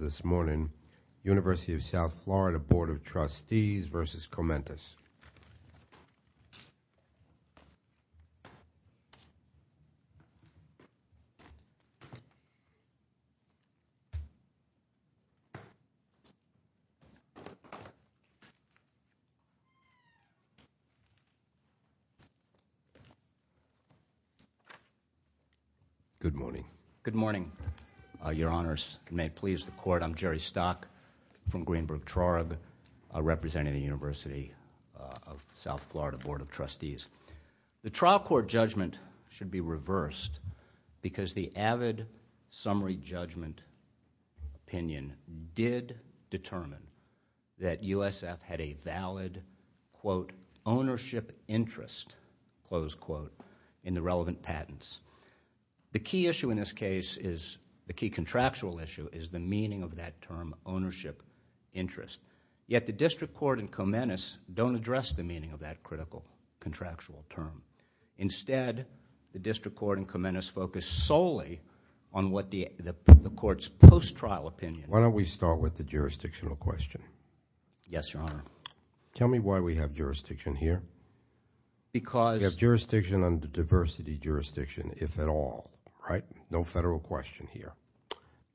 this morning, University of South Florida Board of Trustees v. CoMentis. Good morning. Good morning, Your Honors. May it please the Court, I'm Jerry Stock from of South Florida Board of Trustees. The trial court judgment should be reversed because the avid summary judgment opinion did determine that USF had a valid, quote, ownership interest, close quote, in the relevant patents. The key issue in this case is, the key contractual issue, is the meaning of that term, ownership interest. Yet the district court and CoMentis don't address the meaning of that critical contractual term. Instead, the district court and CoMentis focus solely on what the court's post-trial opinion. Why don't we start with the jurisdictional question? Yes, Your Honor. Tell me why we have jurisdiction here. Because... We have jurisdiction under diversity jurisdiction, if at all, right? No federal question here.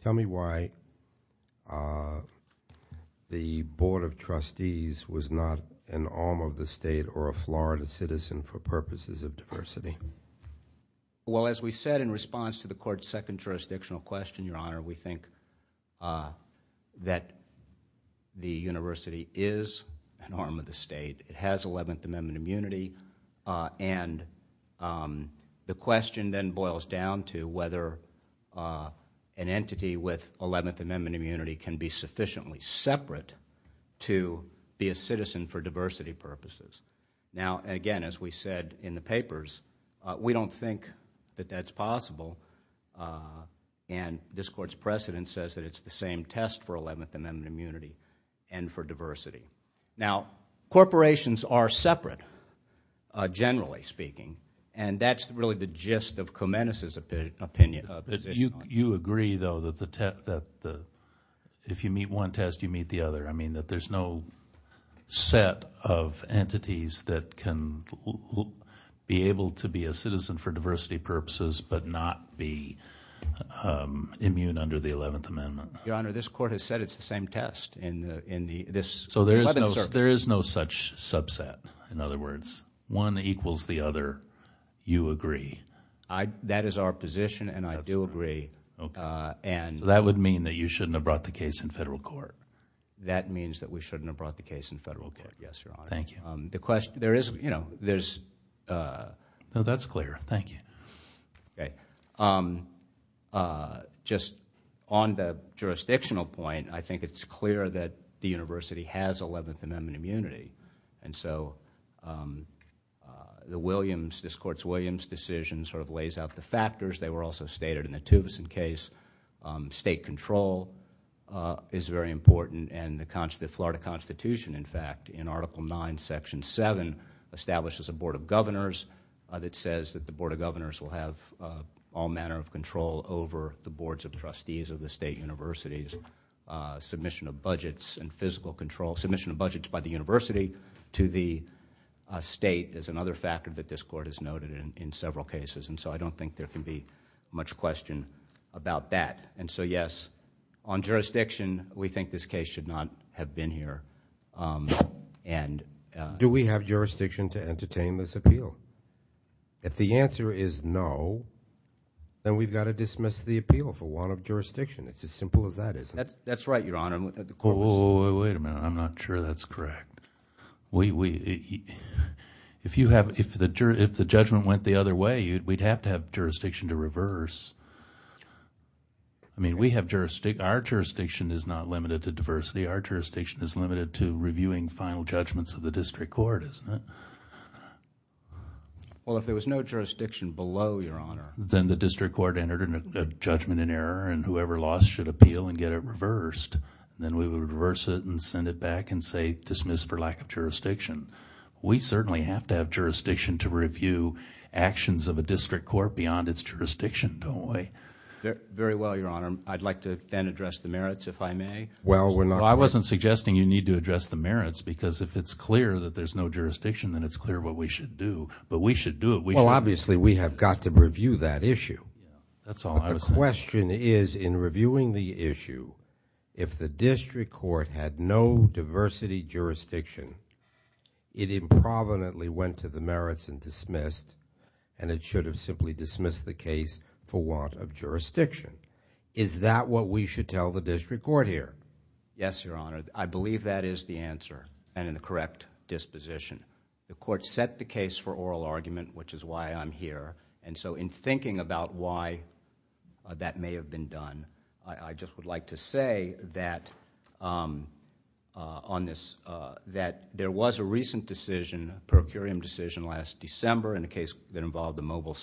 Tell me why the Board of Trustees was not an arm of the state or a Florida citizen for purposes of diversity. Well, as we said in response to the court's second jurisdictional question, Your Honor, we think that the university is an arm of the state. It has 11th Amendment immunity, and the question then boils down to whether an entity with 11th Amendment immunity can be sufficiently separate to be a citizen for diversity purposes. Now, again, as we said in the papers, we don't think that that's possible, and this court's precedent says that it's the same test for 11th Amendment immunity and for diversity. Now, corporations are separate, generally speaking, and that's really the gist of CoMentis' opinion. You agree, though, that if you meet one test, you meet the other. I mean, that there's no set of entities that can be able to be a citizen for diversity purposes but not be immune under the 11th Amendment. Your Honor, this court has said it's the same test. So there is no such subset. In other words, one equals the other. You agree. That is our position, and I do agree. So that would mean that you shouldn't have brought the case in federal court. That means that we shouldn't have brought the case in federal court, yes, Your Honor. Thank you. No, that's clear. Thank you. Okay. Just on the jurisdictional point, I think it's clear that the University has 11th Amendment immunity, and so this court's Williams decision sort of lays out the factors. They were also stated in the Tubison case. State control is very important, and the Florida Constitution, in fact, in Article 9, Section 7, establishes a Board of Governors that says that the Board of Governors will have all manner of control over the boards of trustees of the state universities. Submission of budgets and physical control, submission of budgets by the university to the state is another factor that this court has noted in several cases, and so I don't think there can be much question about that. And so, yes, on jurisdiction, we think this case should not have been here. Do we have jurisdiction to entertain this appeal? If the answer is no, then we've got to dismiss the appeal for want of jurisdiction. It's as simple as that, isn't it? That's right, Your Honor. Wait a minute. I'm not sure that's correct. If the judgment went the other way, we'd have to have jurisdiction to reverse. I mean, we have jurisdiction. Our jurisdiction is not limited to diversity. Our jurisdiction is limited to reviewing final judgments of the district court, isn't it? Well, if there was no jurisdiction below, Your Honor... Then the district court entered a judgment in error, and whoever lost should appeal and get it reversed. Then we would reverse it and send it back and say dismiss for lack of jurisdiction. We certainly have to have jurisdiction to review actions of a district court beyond its jurisdiction, don't we? Very well, Your Honor. I'd like to then address the merits, if I may. Well, we're not... I wasn't suggesting you need to address the merits, because if it's clear that there's no jurisdiction, then it's clear what we should do. But we should do it. Well, obviously, we have got to review that issue. That's all I was saying. The question is, in reviewing the issue, if the district court had no diversity jurisdiction, it improvenantly went to the merits and dismissed, and it should have simply dismissed the case for want of jurisdiction. Is that what we should tell the district court here? Yes, Your Honor. I believe that is the answer and in the correct disposition. The court set the case for oral argument, which is why I'm here. In thinking about why that may have been done, I just would like to say that there was a recent decision, a per curiam decision last December in a case that involved the Mobile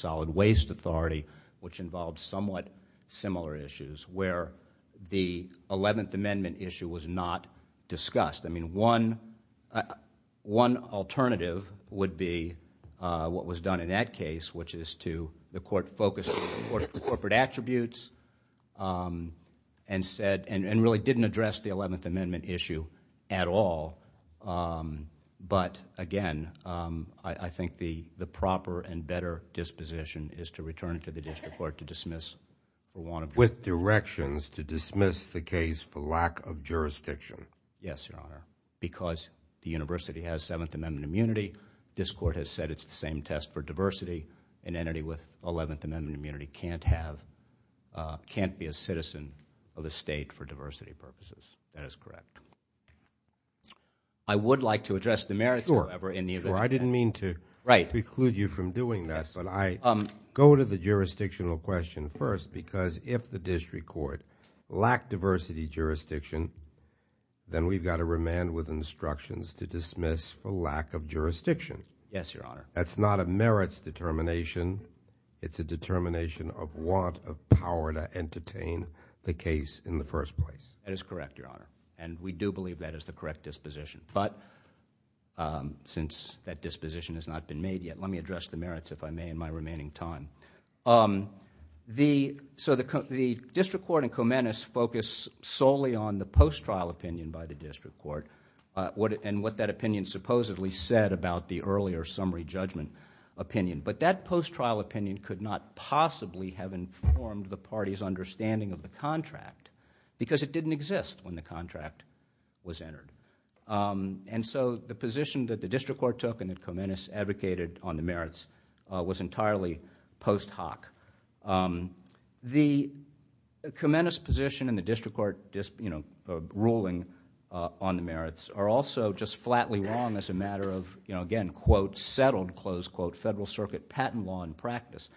where the Eleventh Amendment issue was not discussed. One alternative would be what was done in that case, which is to... the court focused on corporate attributes and really didn't address the Eleventh Amendment issue at all. But, again, I think the proper and better disposition is to return it to the district court to dismiss... With directions to dismiss the case for lack of jurisdiction. Yes, Your Honor, because the university has Seventh Amendment immunity. This court has said it's the same test for diversity. An entity with Eleventh Amendment immunity can't be a citizen of the state for diversity purposes. That is correct. I would like to address the merits, however, in the event... Sure. I didn't mean to preclude you from doing that. But I go to the jurisdictional question first because if the district court lacked diversity jurisdiction, then we've got to remand with instructions to dismiss for lack of jurisdiction. Yes, Your Honor. That's not a merits determination. It's a determination of want of power to entertain the case in the first place. That is correct, Your Honor, and we do believe that is the correct disposition. But since that disposition has not been made yet, let me address the merits, if I may, in my remaining time. The district court in Comenius focused solely on the post-trial opinion by the district court and what that opinion supposedly said about the earlier summary judgment opinion. But that post-trial opinion could not possibly have informed the party's understanding of the contract because it didn't exist when the contract was entered. The position that the district court took and that Comenius advocated on the merits was entirely post hoc. The Comenius position and the district court ruling on the merits are also just flatly wrong as a matter of, again, quote, settled, close quote, federal circuit patent law and practice.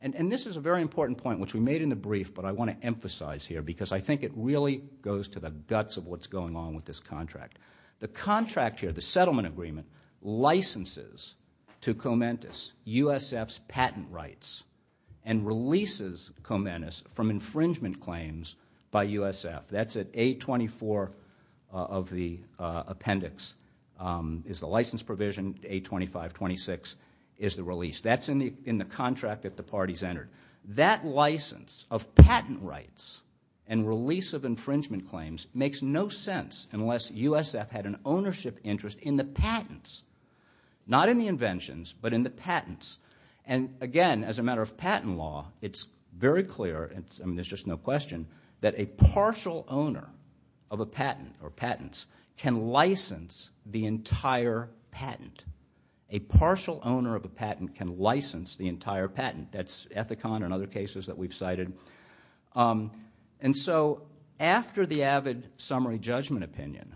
And this is a very important point, which we made in the brief, but I want to emphasize here because I think it really goes to the guts of what's going on with this contract. The contract here, the settlement agreement, licenses to Comenius USF's patent rights and releases Comenius from infringement claims by USF. That's at 824 of the appendix is the license provision, 825.26 is the release. That's in the contract that the parties entered. That license of patent rights and release of infringement claims makes no sense unless USF had an ownership interest in the patents. Not in the inventions, but in the patents. And, again, as a matter of patent law, it's very clear, and there's just no question, that a partial owner of a patent or patents can license the entire patent. A partial owner of a patent can license the entire patent. That's Ethicon and other cases that we've cited. And so after the avid summary judgment opinion,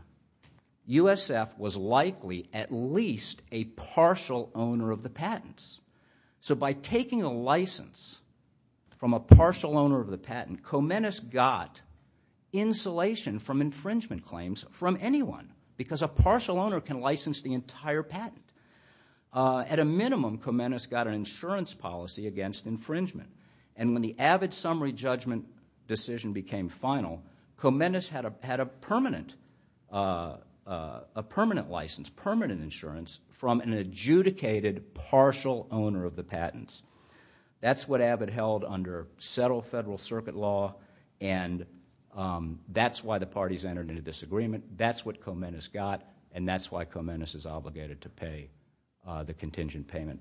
USF was likely at least a partial owner of the patents. So by taking a license from a partial owner of the patent, Comenius got insulation from At a minimum, Comenius got an insurance policy against infringement. And when the avid summary judgment decision became final, Comenius had a permanent license, permanent insurance, from an adjudicated partial owner of the patents. That's what avid held under settled federal circuit law, and that's why the parties entered into this agreement. That's what Comenius got, and that's why Comenius is obligated to pay the contingent payment.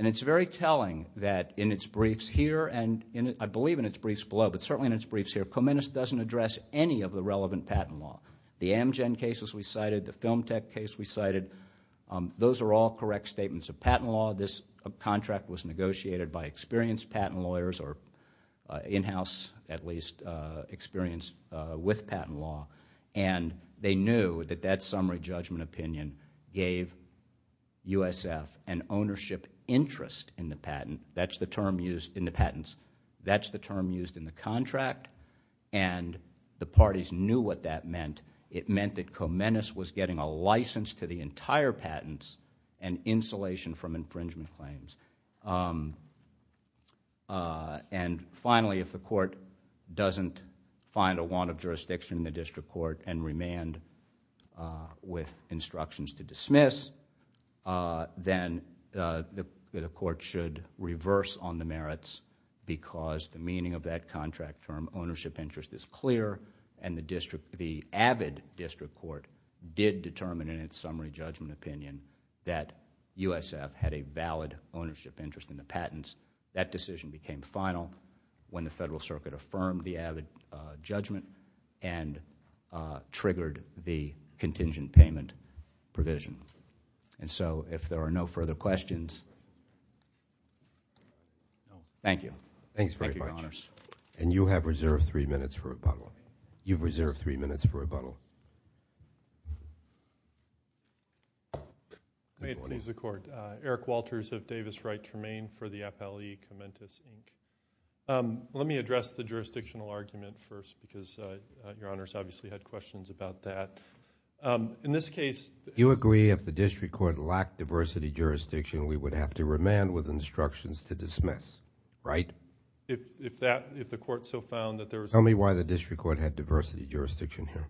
And it's very telling that in its briefs here, and I believe in its briefs below, but certainly in its briefs here, Comenius doesn't address any of the relevant patent law. The Amgen cases we cited, the Film Tech case we cited, those are all correct statements of patent law. This contract was negotiated by experienced patent lawyers or in-house, at least, experience with patent law, and they knew that that summary judgment opinion gave USF an ownership interest in the patent. That's the term used in the patents. That's the term used in the contract, and the parties knew what that meant. It meant that Comenius was getting a license to the entire patents and insulation from infringement claims. And finally, if the court doesn't find a warrant of jurisdiction in the district court and remand with instructions to dismiss, then the court should reverse on the merits because the meaning of that contract term, ownership interest, is clear, and the avid district court did determine in its summary judgment opinion that USF had a valid ownership interest in the patents. That decision became final when the Federal Circuit affirmed the avid judgment and triggered the contingent payment provision. And so, if there are no further questions, thank you. Thank you very much. Thank you, Your Honors. And you have reserved three minutes for rebuttal. You've reserved three minutes for rebuttal. May it please the Court. Eric Walters of Davis Wright Tremaine for the FLE, Comentos, Inc. Let me address the jurisdictional argument first because Your Honors obviously had questions about that. In this case— You agree if the district court lacked diversity jurisdiction, we would have to remand with instructions to dismiss, right? If the court so found that there was— Tell me why the district court had diversity jurisdiction here.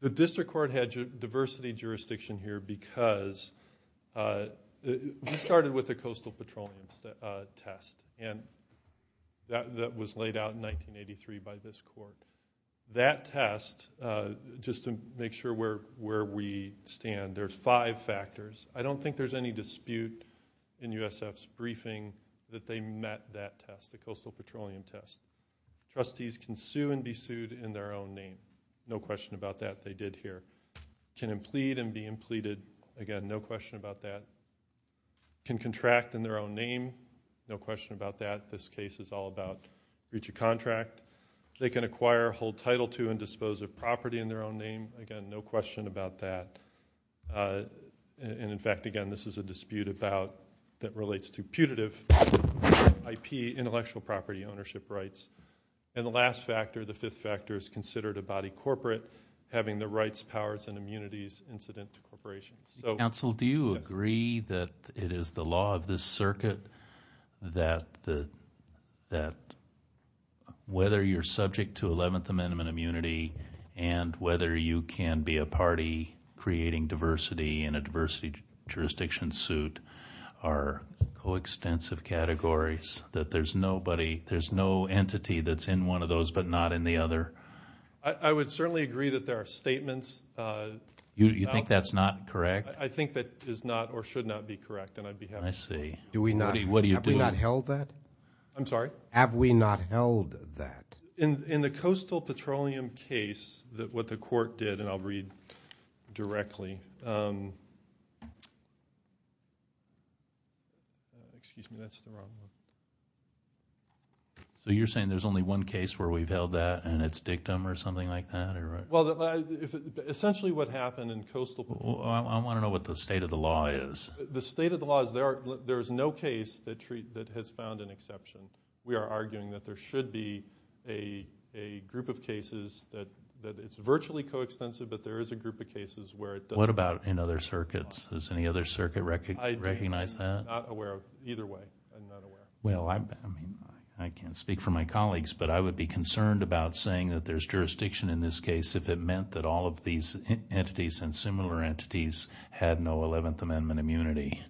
The district court had diversity jurisdiction here because we started with the coastal petroleum test, and that was laid out in 1983 by this court. That test, just to make sure where we stand, there's five factors. I don't think there's any dispute in USF's briefing that they met that test, the coastal petroleum test. Trustees can sue and be sued in their own name. No question about that. They did here. Can implead and be impleaded. Again, no question about that. Can contract in their own name. No question about that. This case is all about breach of contract. They can acquire, hold title to, and dispose of property in their own name. Again, no question about that. In fact, again, this is a dispute about—that relates to putative IP, intellectual property ownership rights. The last factor, the fifth factor, is considered a body corporate having the rights, powers, and immunities incident to corporations. Counsel, do you agree that it is the law of this circuit that whether you're subject to creating diversity in a diversity jurisdiction suit are coextensive categories, that there's nobody, there's no entity that's in one of those but not in the other? I would certainly agree that there are statements— You think that's not correct? I think that is not or should not be correct, and I'd be happy— I see. What are you doing? Have we not held that? I'm sorry? Have we not held that? In the coastal petroleum case, what the court did—and I'll read directly. Excuse me, that's the wrong one. So you're saying there's only one case where we've held that and it's dictum or something like that? Well, essentially what happened in coastal— I want to know what the state of the law is. The state of the law is there is no case that has found an exception. We are arguing that there should be a group of cases that it's virtually coextensive, but there is a group of cases where it doesn't— What about in other circuits? Does any other circuit recognize that? I'm not aware of either way. I'm not aware. Well, I can't speak for my colleagues, but I would be concerned about saying that there's jurisdiction in this case if it meant that all of these entities and similar entities had no 11th Amendment immunity.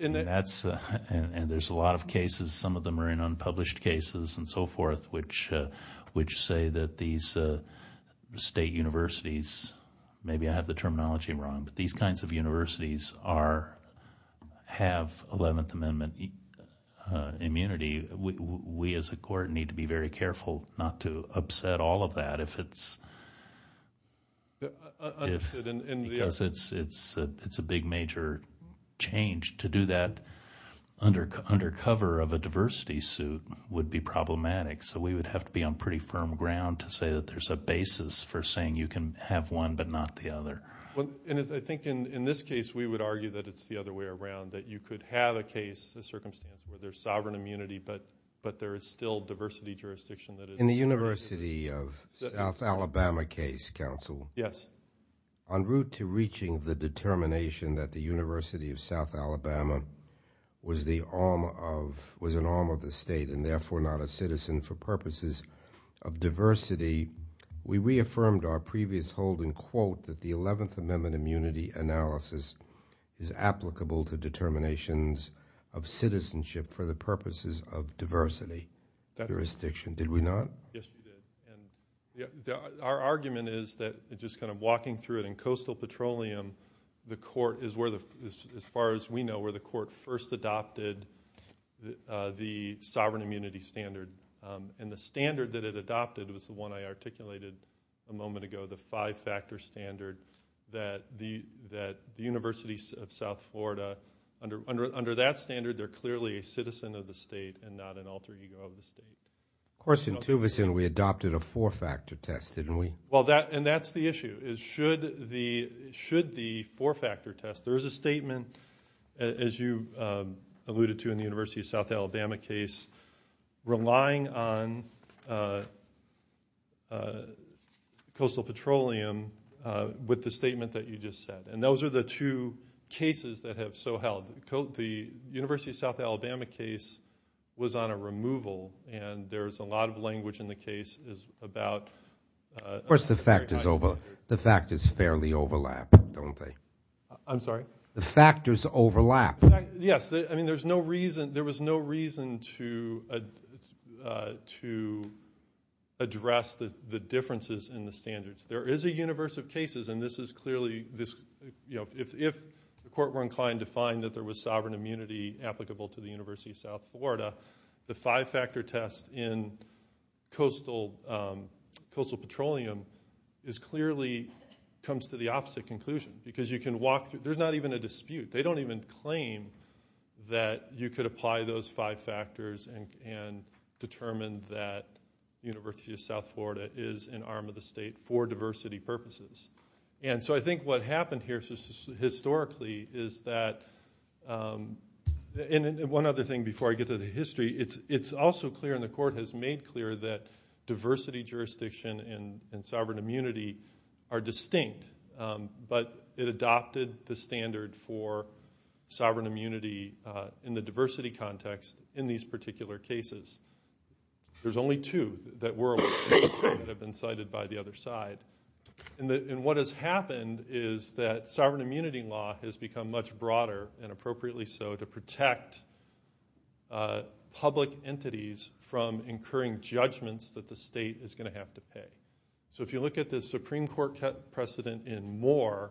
And there's a lot of cases, some of them are in unpublished cases and so forth, which say that these state universities—maybe I have the terminology wrong— but these kinds of universities have 11th Amendment immunity. We as a court need to be very careful not to upset all of that if it's— to do that under cover of a diversity suit would be problematic. So we would have to be on pretty firm ground to say that there's a basis for saying you can have one but not the other. And I think in this case we would argue that it's the other way around, that you could have a case, a circumstance where there's sovereign immunity, but there is still diversity jurisdiction that is— In the University of South Alabama case, counsel. Yes. On route to reaching the determination that the University of South Alabama was an arm of the state and therefore not a citizen for purposes of diversity, we reaffirmed our previous holding, quote, that the 11th Amendment immunity analysis is applicable to determinations of citizenship for the purposes of diversity jurisdiction. Did we not? Yes, we did. Our argument is that just kind of walking through it in coastal petroleum, the court is where the—as far as we know, where the court first adopted the sovereign immunity standard. And the standard that it adopted was the one I articulated a moment ago, the five-factor standard that the University of South Florida, under that standard they're clearly a citizen of the state and not an alter ego of the state. Of course, in Tuvison we adopted a four-factor test, didn't we? And that's the issue, is should the four-factor test— there is a statement, as you alluded to in the University of South Alabama case, relying on coastal petroleum with the statement that you just said. And those are the two cases that have so held. The University of South Alabama case was on a removal and there's a lot of language in the case about— Of course, the factors fairly overlap, don't they? I'm sorry? The factors overlap. Yes. I mean there was no reason to address the differences in the standards. There is a universe of cases, and this is clearly— if the court were inclined to find that there was sovereign immunity applicable to the University of South Florida, the five-factor test in coastal petroleum is clearly— comes to the opposite conclusion because you can walk through— there's not even a dispute. They don't even claim that you could apply those five factors and determine that the University of South Florida is an arm of the state for diversity purposes. And so I think what happened here historically is that— And one other thing before I get to the history. It's also clear, and the court has made clear, that diversity jurisdiction and sovereign immunity are distinct, but it adopted the standard for sovereign immunity in the diversity context in these particular cases. There's only two that have been cited by the other side. And what has happened is that sovereign immunity law has become much broader, and appropriately so, to protect public entities from incurring judgments that the state is going to have to pay. So if you look at the Supreme Court precedent in Moore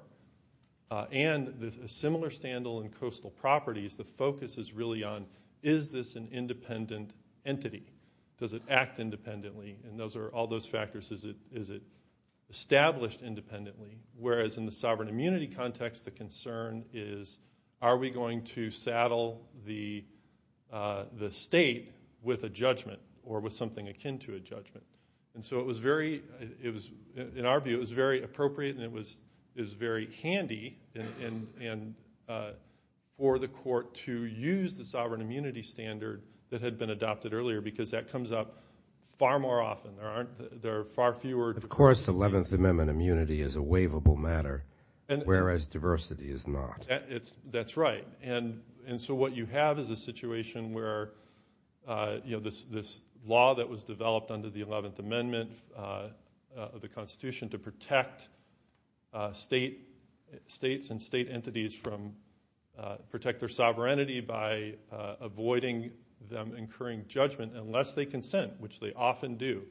and a similar scandal in coastal properties, the focus is really on, is this an independent entity? Does it act independently? And all those factors, is it established independently? Whereas in the sovereign immunity context, the concern is, are we going to saddle the state with a judgment or with something akin to a judgment? And so in our view, it was very appropriate and it was very handy for the court to use the sovereign immunity standard that had been adopted earlier, because that comes up far more often. There are far fewer— Of course 11th Amendment immunity is a waivable matter, whereas diversity is not. That's right. And so what you have is a situation where this law that was developed under the 11th Amendment of the Constitution to protect states and state entities from— protect their sovereignty by avoiding them incurring judgment unless they consent, which they often do.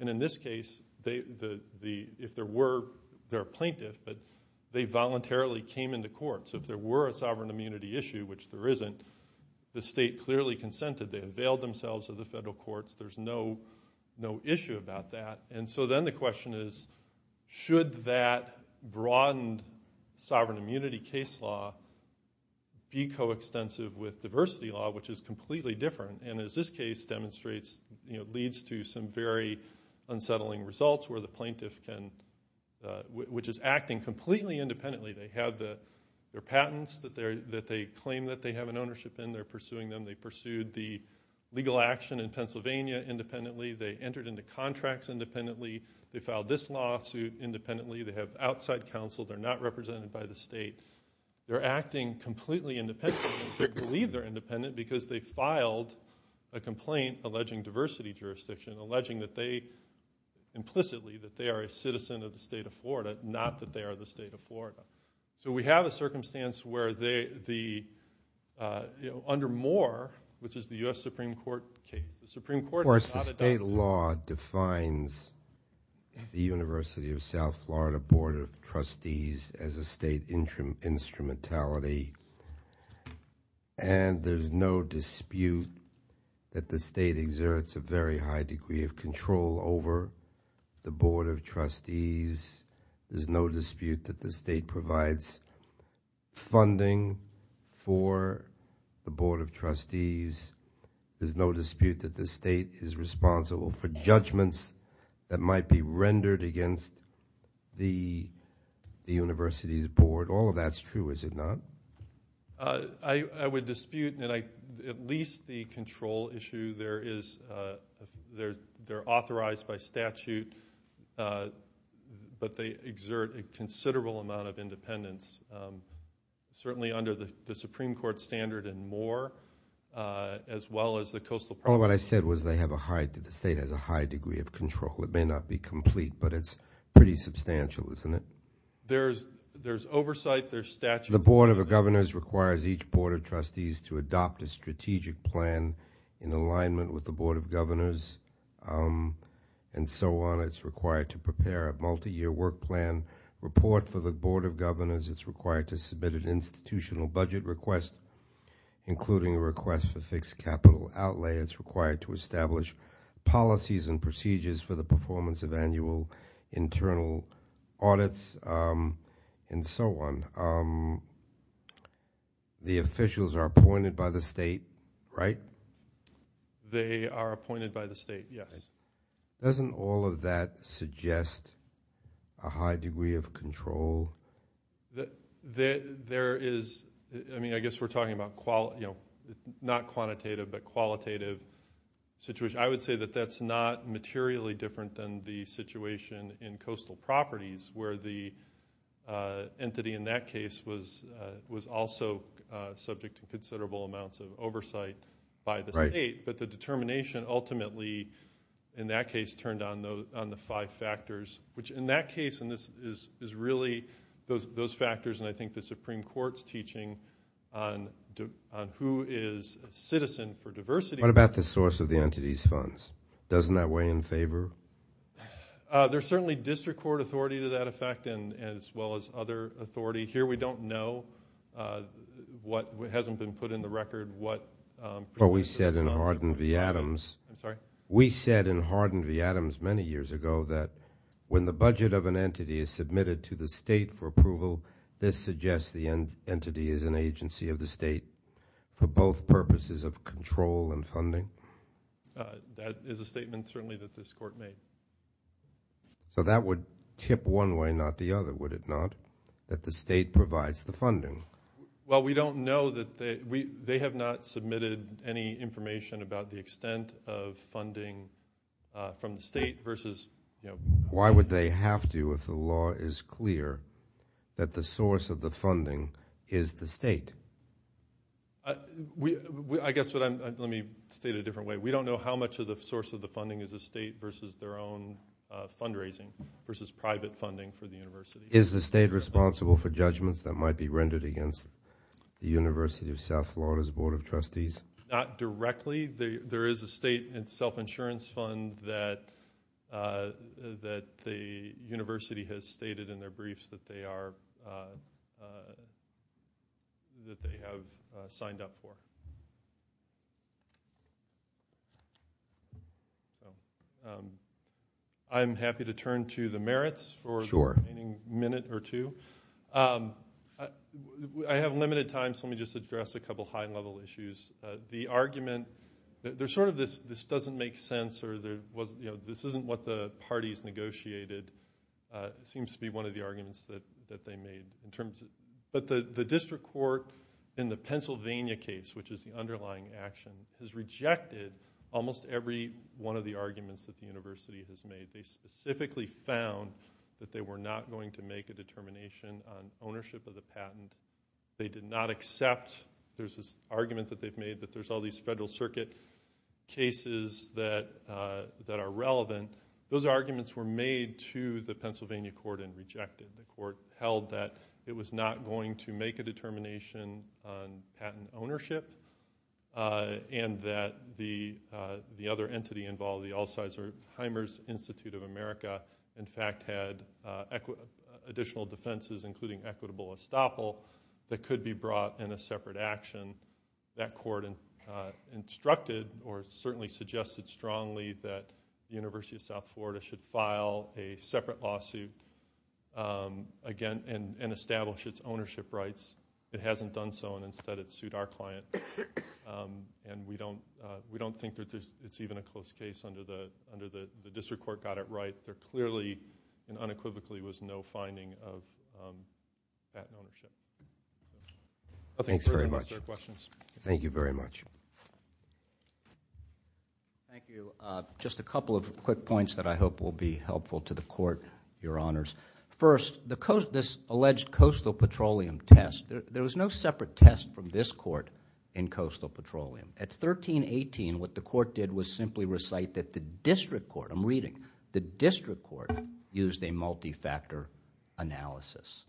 And in this case, if there were— they're a plaintiff, but they voluntarily came into court. So if there were a sovereign immunity issue, which there isn't, the state clearly consented. They availed themselves of the federal courts. There's no issue about that. And so then the question is, should that broadened sovereign immunity case law be coextensive with diversity law, which is completely different? And as this case demonstrates, this leads to some very unsettling results where the plaintiff can— which is acting completely independently. They have their patents that they claim that they have an ownership in. They're pursuing them. They pursued the legal action in Pennsylvania independently. They entered into contracts independently. They filed this lawsuit independently. They have outside counsel. They're not represented by the state. They're acting completely independently. They believe they're independent because they filed a complaint alleging diversity jurisdiction, alleging that they implicitly— that they are a citizen of the state of Florida, not that they are the state of Florida. So we have a circumstance where the— under Moore, which is the U.S. Supreme Court case, the Supreme Court— Of course, the state law defines the University of South Florida Board of Trustees as a state instrumentality. And there's no dispute that the state exerts a very high degree of control over the Board of Trustees. There's no dispute that the state provides funding for the Board of Trustees. There's no dispute that the state is responsible for judgments that might be rendered against the university's board. All of that's true, is it not? I would dispute at least the control issue. There is—they're authorized by statute, but they exert a considerable amount of independence, certainly under the Supreme Court standard in Moore as well as the coastal— What I said was they have a high— the state has a high degree of control. It may not be complete, but it's pretty substantial, isn't it? There's oversight, there's statute. The Board of Governors requires each Board of Trustees to adopt a strategic plan in alignment with the Board of Governors and so on. It's required to prepare a multi-year work plan report for the Board of Governors. It's required to submit an institutional budget request, including a request for fixed capital outlay. It's required to establish policies and procedures for the performance of annual internal audits and so on. The officials are appointed by the state, right? They are appointed by the state, yes. Doesn't all of that suggest a high degree of control? There is—I mean, I guess we're talking about— not quantitative, but qualitative situation. I would say that that's not materially different than the situation in coastal properties where the entity in that case was also subject to considerable amounts of oversight by the state. Right. But the determination ultimately in that case turned on the five factors, which in that case is really those factors, and I think the Supreme Court's teaching on who is a citizen for diversity— What about the source of the entity's funds? Doesn't that weigh in favor? There's certainly district court authority to that effect as well as other authority. Here we don't know what hasn't been put in the record, what— But we said in Hardin v. Adams— I'm sorry? We said in Hardin v. Adams many years ago that when the budget of an entity is submitted to the state for approval, this suggests the entity is an agency of the state for both purposes of control and funding? That is a statement certainly that this court made. So that would tip one way, not the other, would it not, that the state provides the funding? Well, we don't know that— They have not submitted any information about the extent of funding from the state versus— Why would they have to if the law is clear that the source of the funding is the state? I guess what I'm— Let me state it a different way. We don't know how much of the source of the funding is the state versus their own fundraising versus private funding for the university. Is the state responsible for judgments that might be rendered against the University of South Florida's Board of Trustees? Not directly. There is a state self-insurance fund that the university has stated in their briefs that they have signed up for. I am happy to turn to the merits for the remaining minute or two. I have limited time, so let me just address a couple high-level issues. The argument— There's sort of this doesn't make sense or this isn't what the parties negotiated. It seems to be one of the arguments that they made. But the district court in the Pennsylvania case, which is the underlying action, has rejected almost every one of the arguments that the university has made. They specifically found that they were not going to make a determination on ownership of the patent. They did not accept— There's this argument that they've made that there's all these Federal Circuit cases that are relevant. Those arguments were made to the Pennsylvania court and rejected. The court held that it was not going to make a determination on patent ownership and that the other entity involved, the Alzheimer's Institute of America, in fact had additional defenses, including equitable estoppel, that could be brought in a separate action. That court instructed or certainly suggested strongly that the University of South Florida should file a separate lawsuit and establish its ownership rights. It hasn't done so, and instead it sued our client. We don't think that it's even a close case under the district court got it right. There clearly and unequivocally was no finding of patent ownership. Thanks very much. Thank you very much. Thank you. Just a couple of quick points that I hope will be helpful to the court, Your Honors. First, this alleged coastal petroleum test, there was no separate test from this court in coastal petroleum. At 1318, what the court did was simply recite that the district court, I'm reading, the district court used a multi-factor analysis.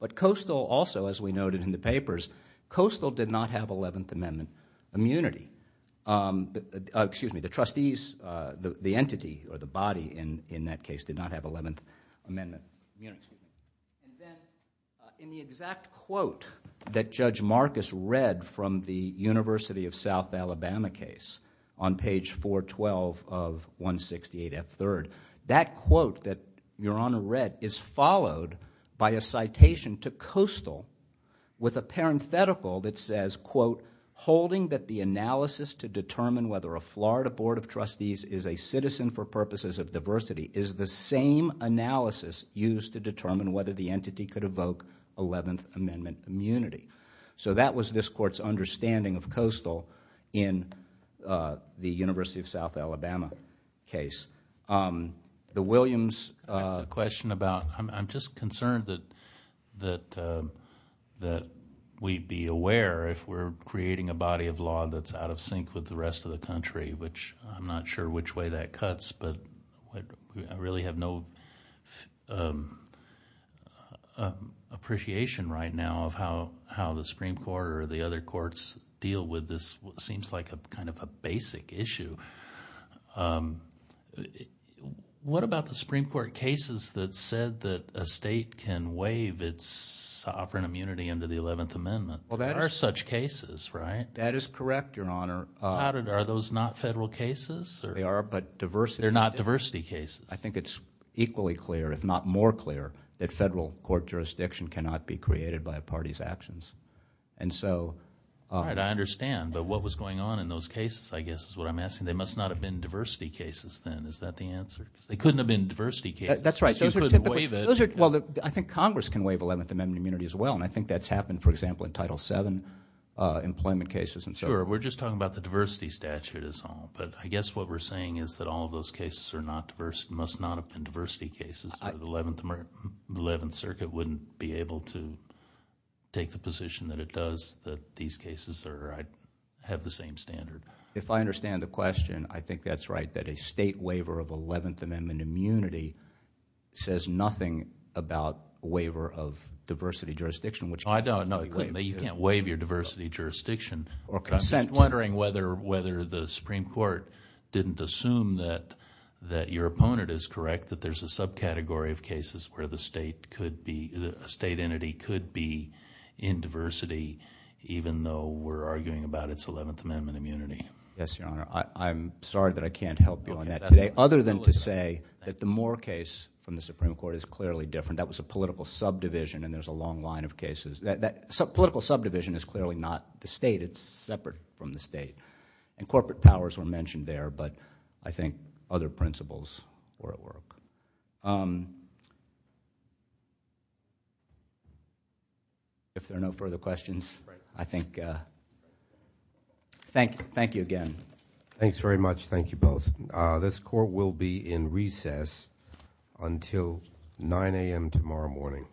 But coastal also, as we noted in the papers, coastal did not have 11th Amendment. Excuse me, the trustees, the entity or the body in that case did not have 11th Amendment. In the exact quote that Judge Marcus read from the University of South Alabama case on page 412 of 168F3rd, that quote that Your Honor read is followed by a citation to coastal with a parenthetical that says, quote, holding that the analysis to determine whether a Florida Board of Trustees is a citizen for purposes of diversity is the same analysis used to determine whether the entity could evoke 11th Amendment immunity. So that was this court's understanding of coastal in the University of South Alabama case. The Williams... I have a question about, I'm just concerned that we'd be aware if we're creating a body of law that's out of sync with the rest of the country, which I'm not sure which way that cuts, but I really have no appreciation right now of how the Supreme Court or the other courts deal with this, what seems like kind of a basic issue. What about the Supreme Court cases that said that a state can waive its sovereign immunity under the 11th Amendment? There are such cases, right? That is correct, Your Honor. Are those not federal cases? They are, but diversity... They're not diversity cases. I think it's equally clear, if not more clear, that federal court jurisdiction cannot be created by a party's actions, and so... All right, I understand, but what was going on in those cases, I guess, is what I'm asking. They must not have been diversity cases then. Is that the answer? They couldn't have been diversity cases. That's right. You couldn't waive it. Well, I think Congress can waive 11th Amendment immunity as well, and I think that's happened, for example, in Title VII employment cases and so on. Sure, we're just talking about the diversity statute, is all, but I guess what we're saying is that all of those cases must not have been diversity cases. The 11th Circuit wouldn't be able to take the position that it does that these cases have the same standard. If I understand the question, I think that's right, that a state waiver of 11th Amendment immunity says nothing about a waiver of diversity jurisdiction. I don't. You can't waive your diversity jurisdiction. I'm just wondering whether the Supreme Court didn't assume that your opponent is correct, that there's a subcategory of cases where a state entity could be in diversity, even though we're arguing about its 11th Amendment immunity. Yes, Your Honor. I'm sorry that I can't help you on that today, other than to say that the Moore case from the Supreme Court is clearly different. That was a political subdivision, and there's a long line of cases. Political subdivision is clearly not the state. It's separate from the state, and corporate powers were mentioned there, but I think other principles were at work. If there are no further questions, I think... Thank you again. Thanks very much. Thank you both. This court will be in recess until 9 a.m. tomorrow morning.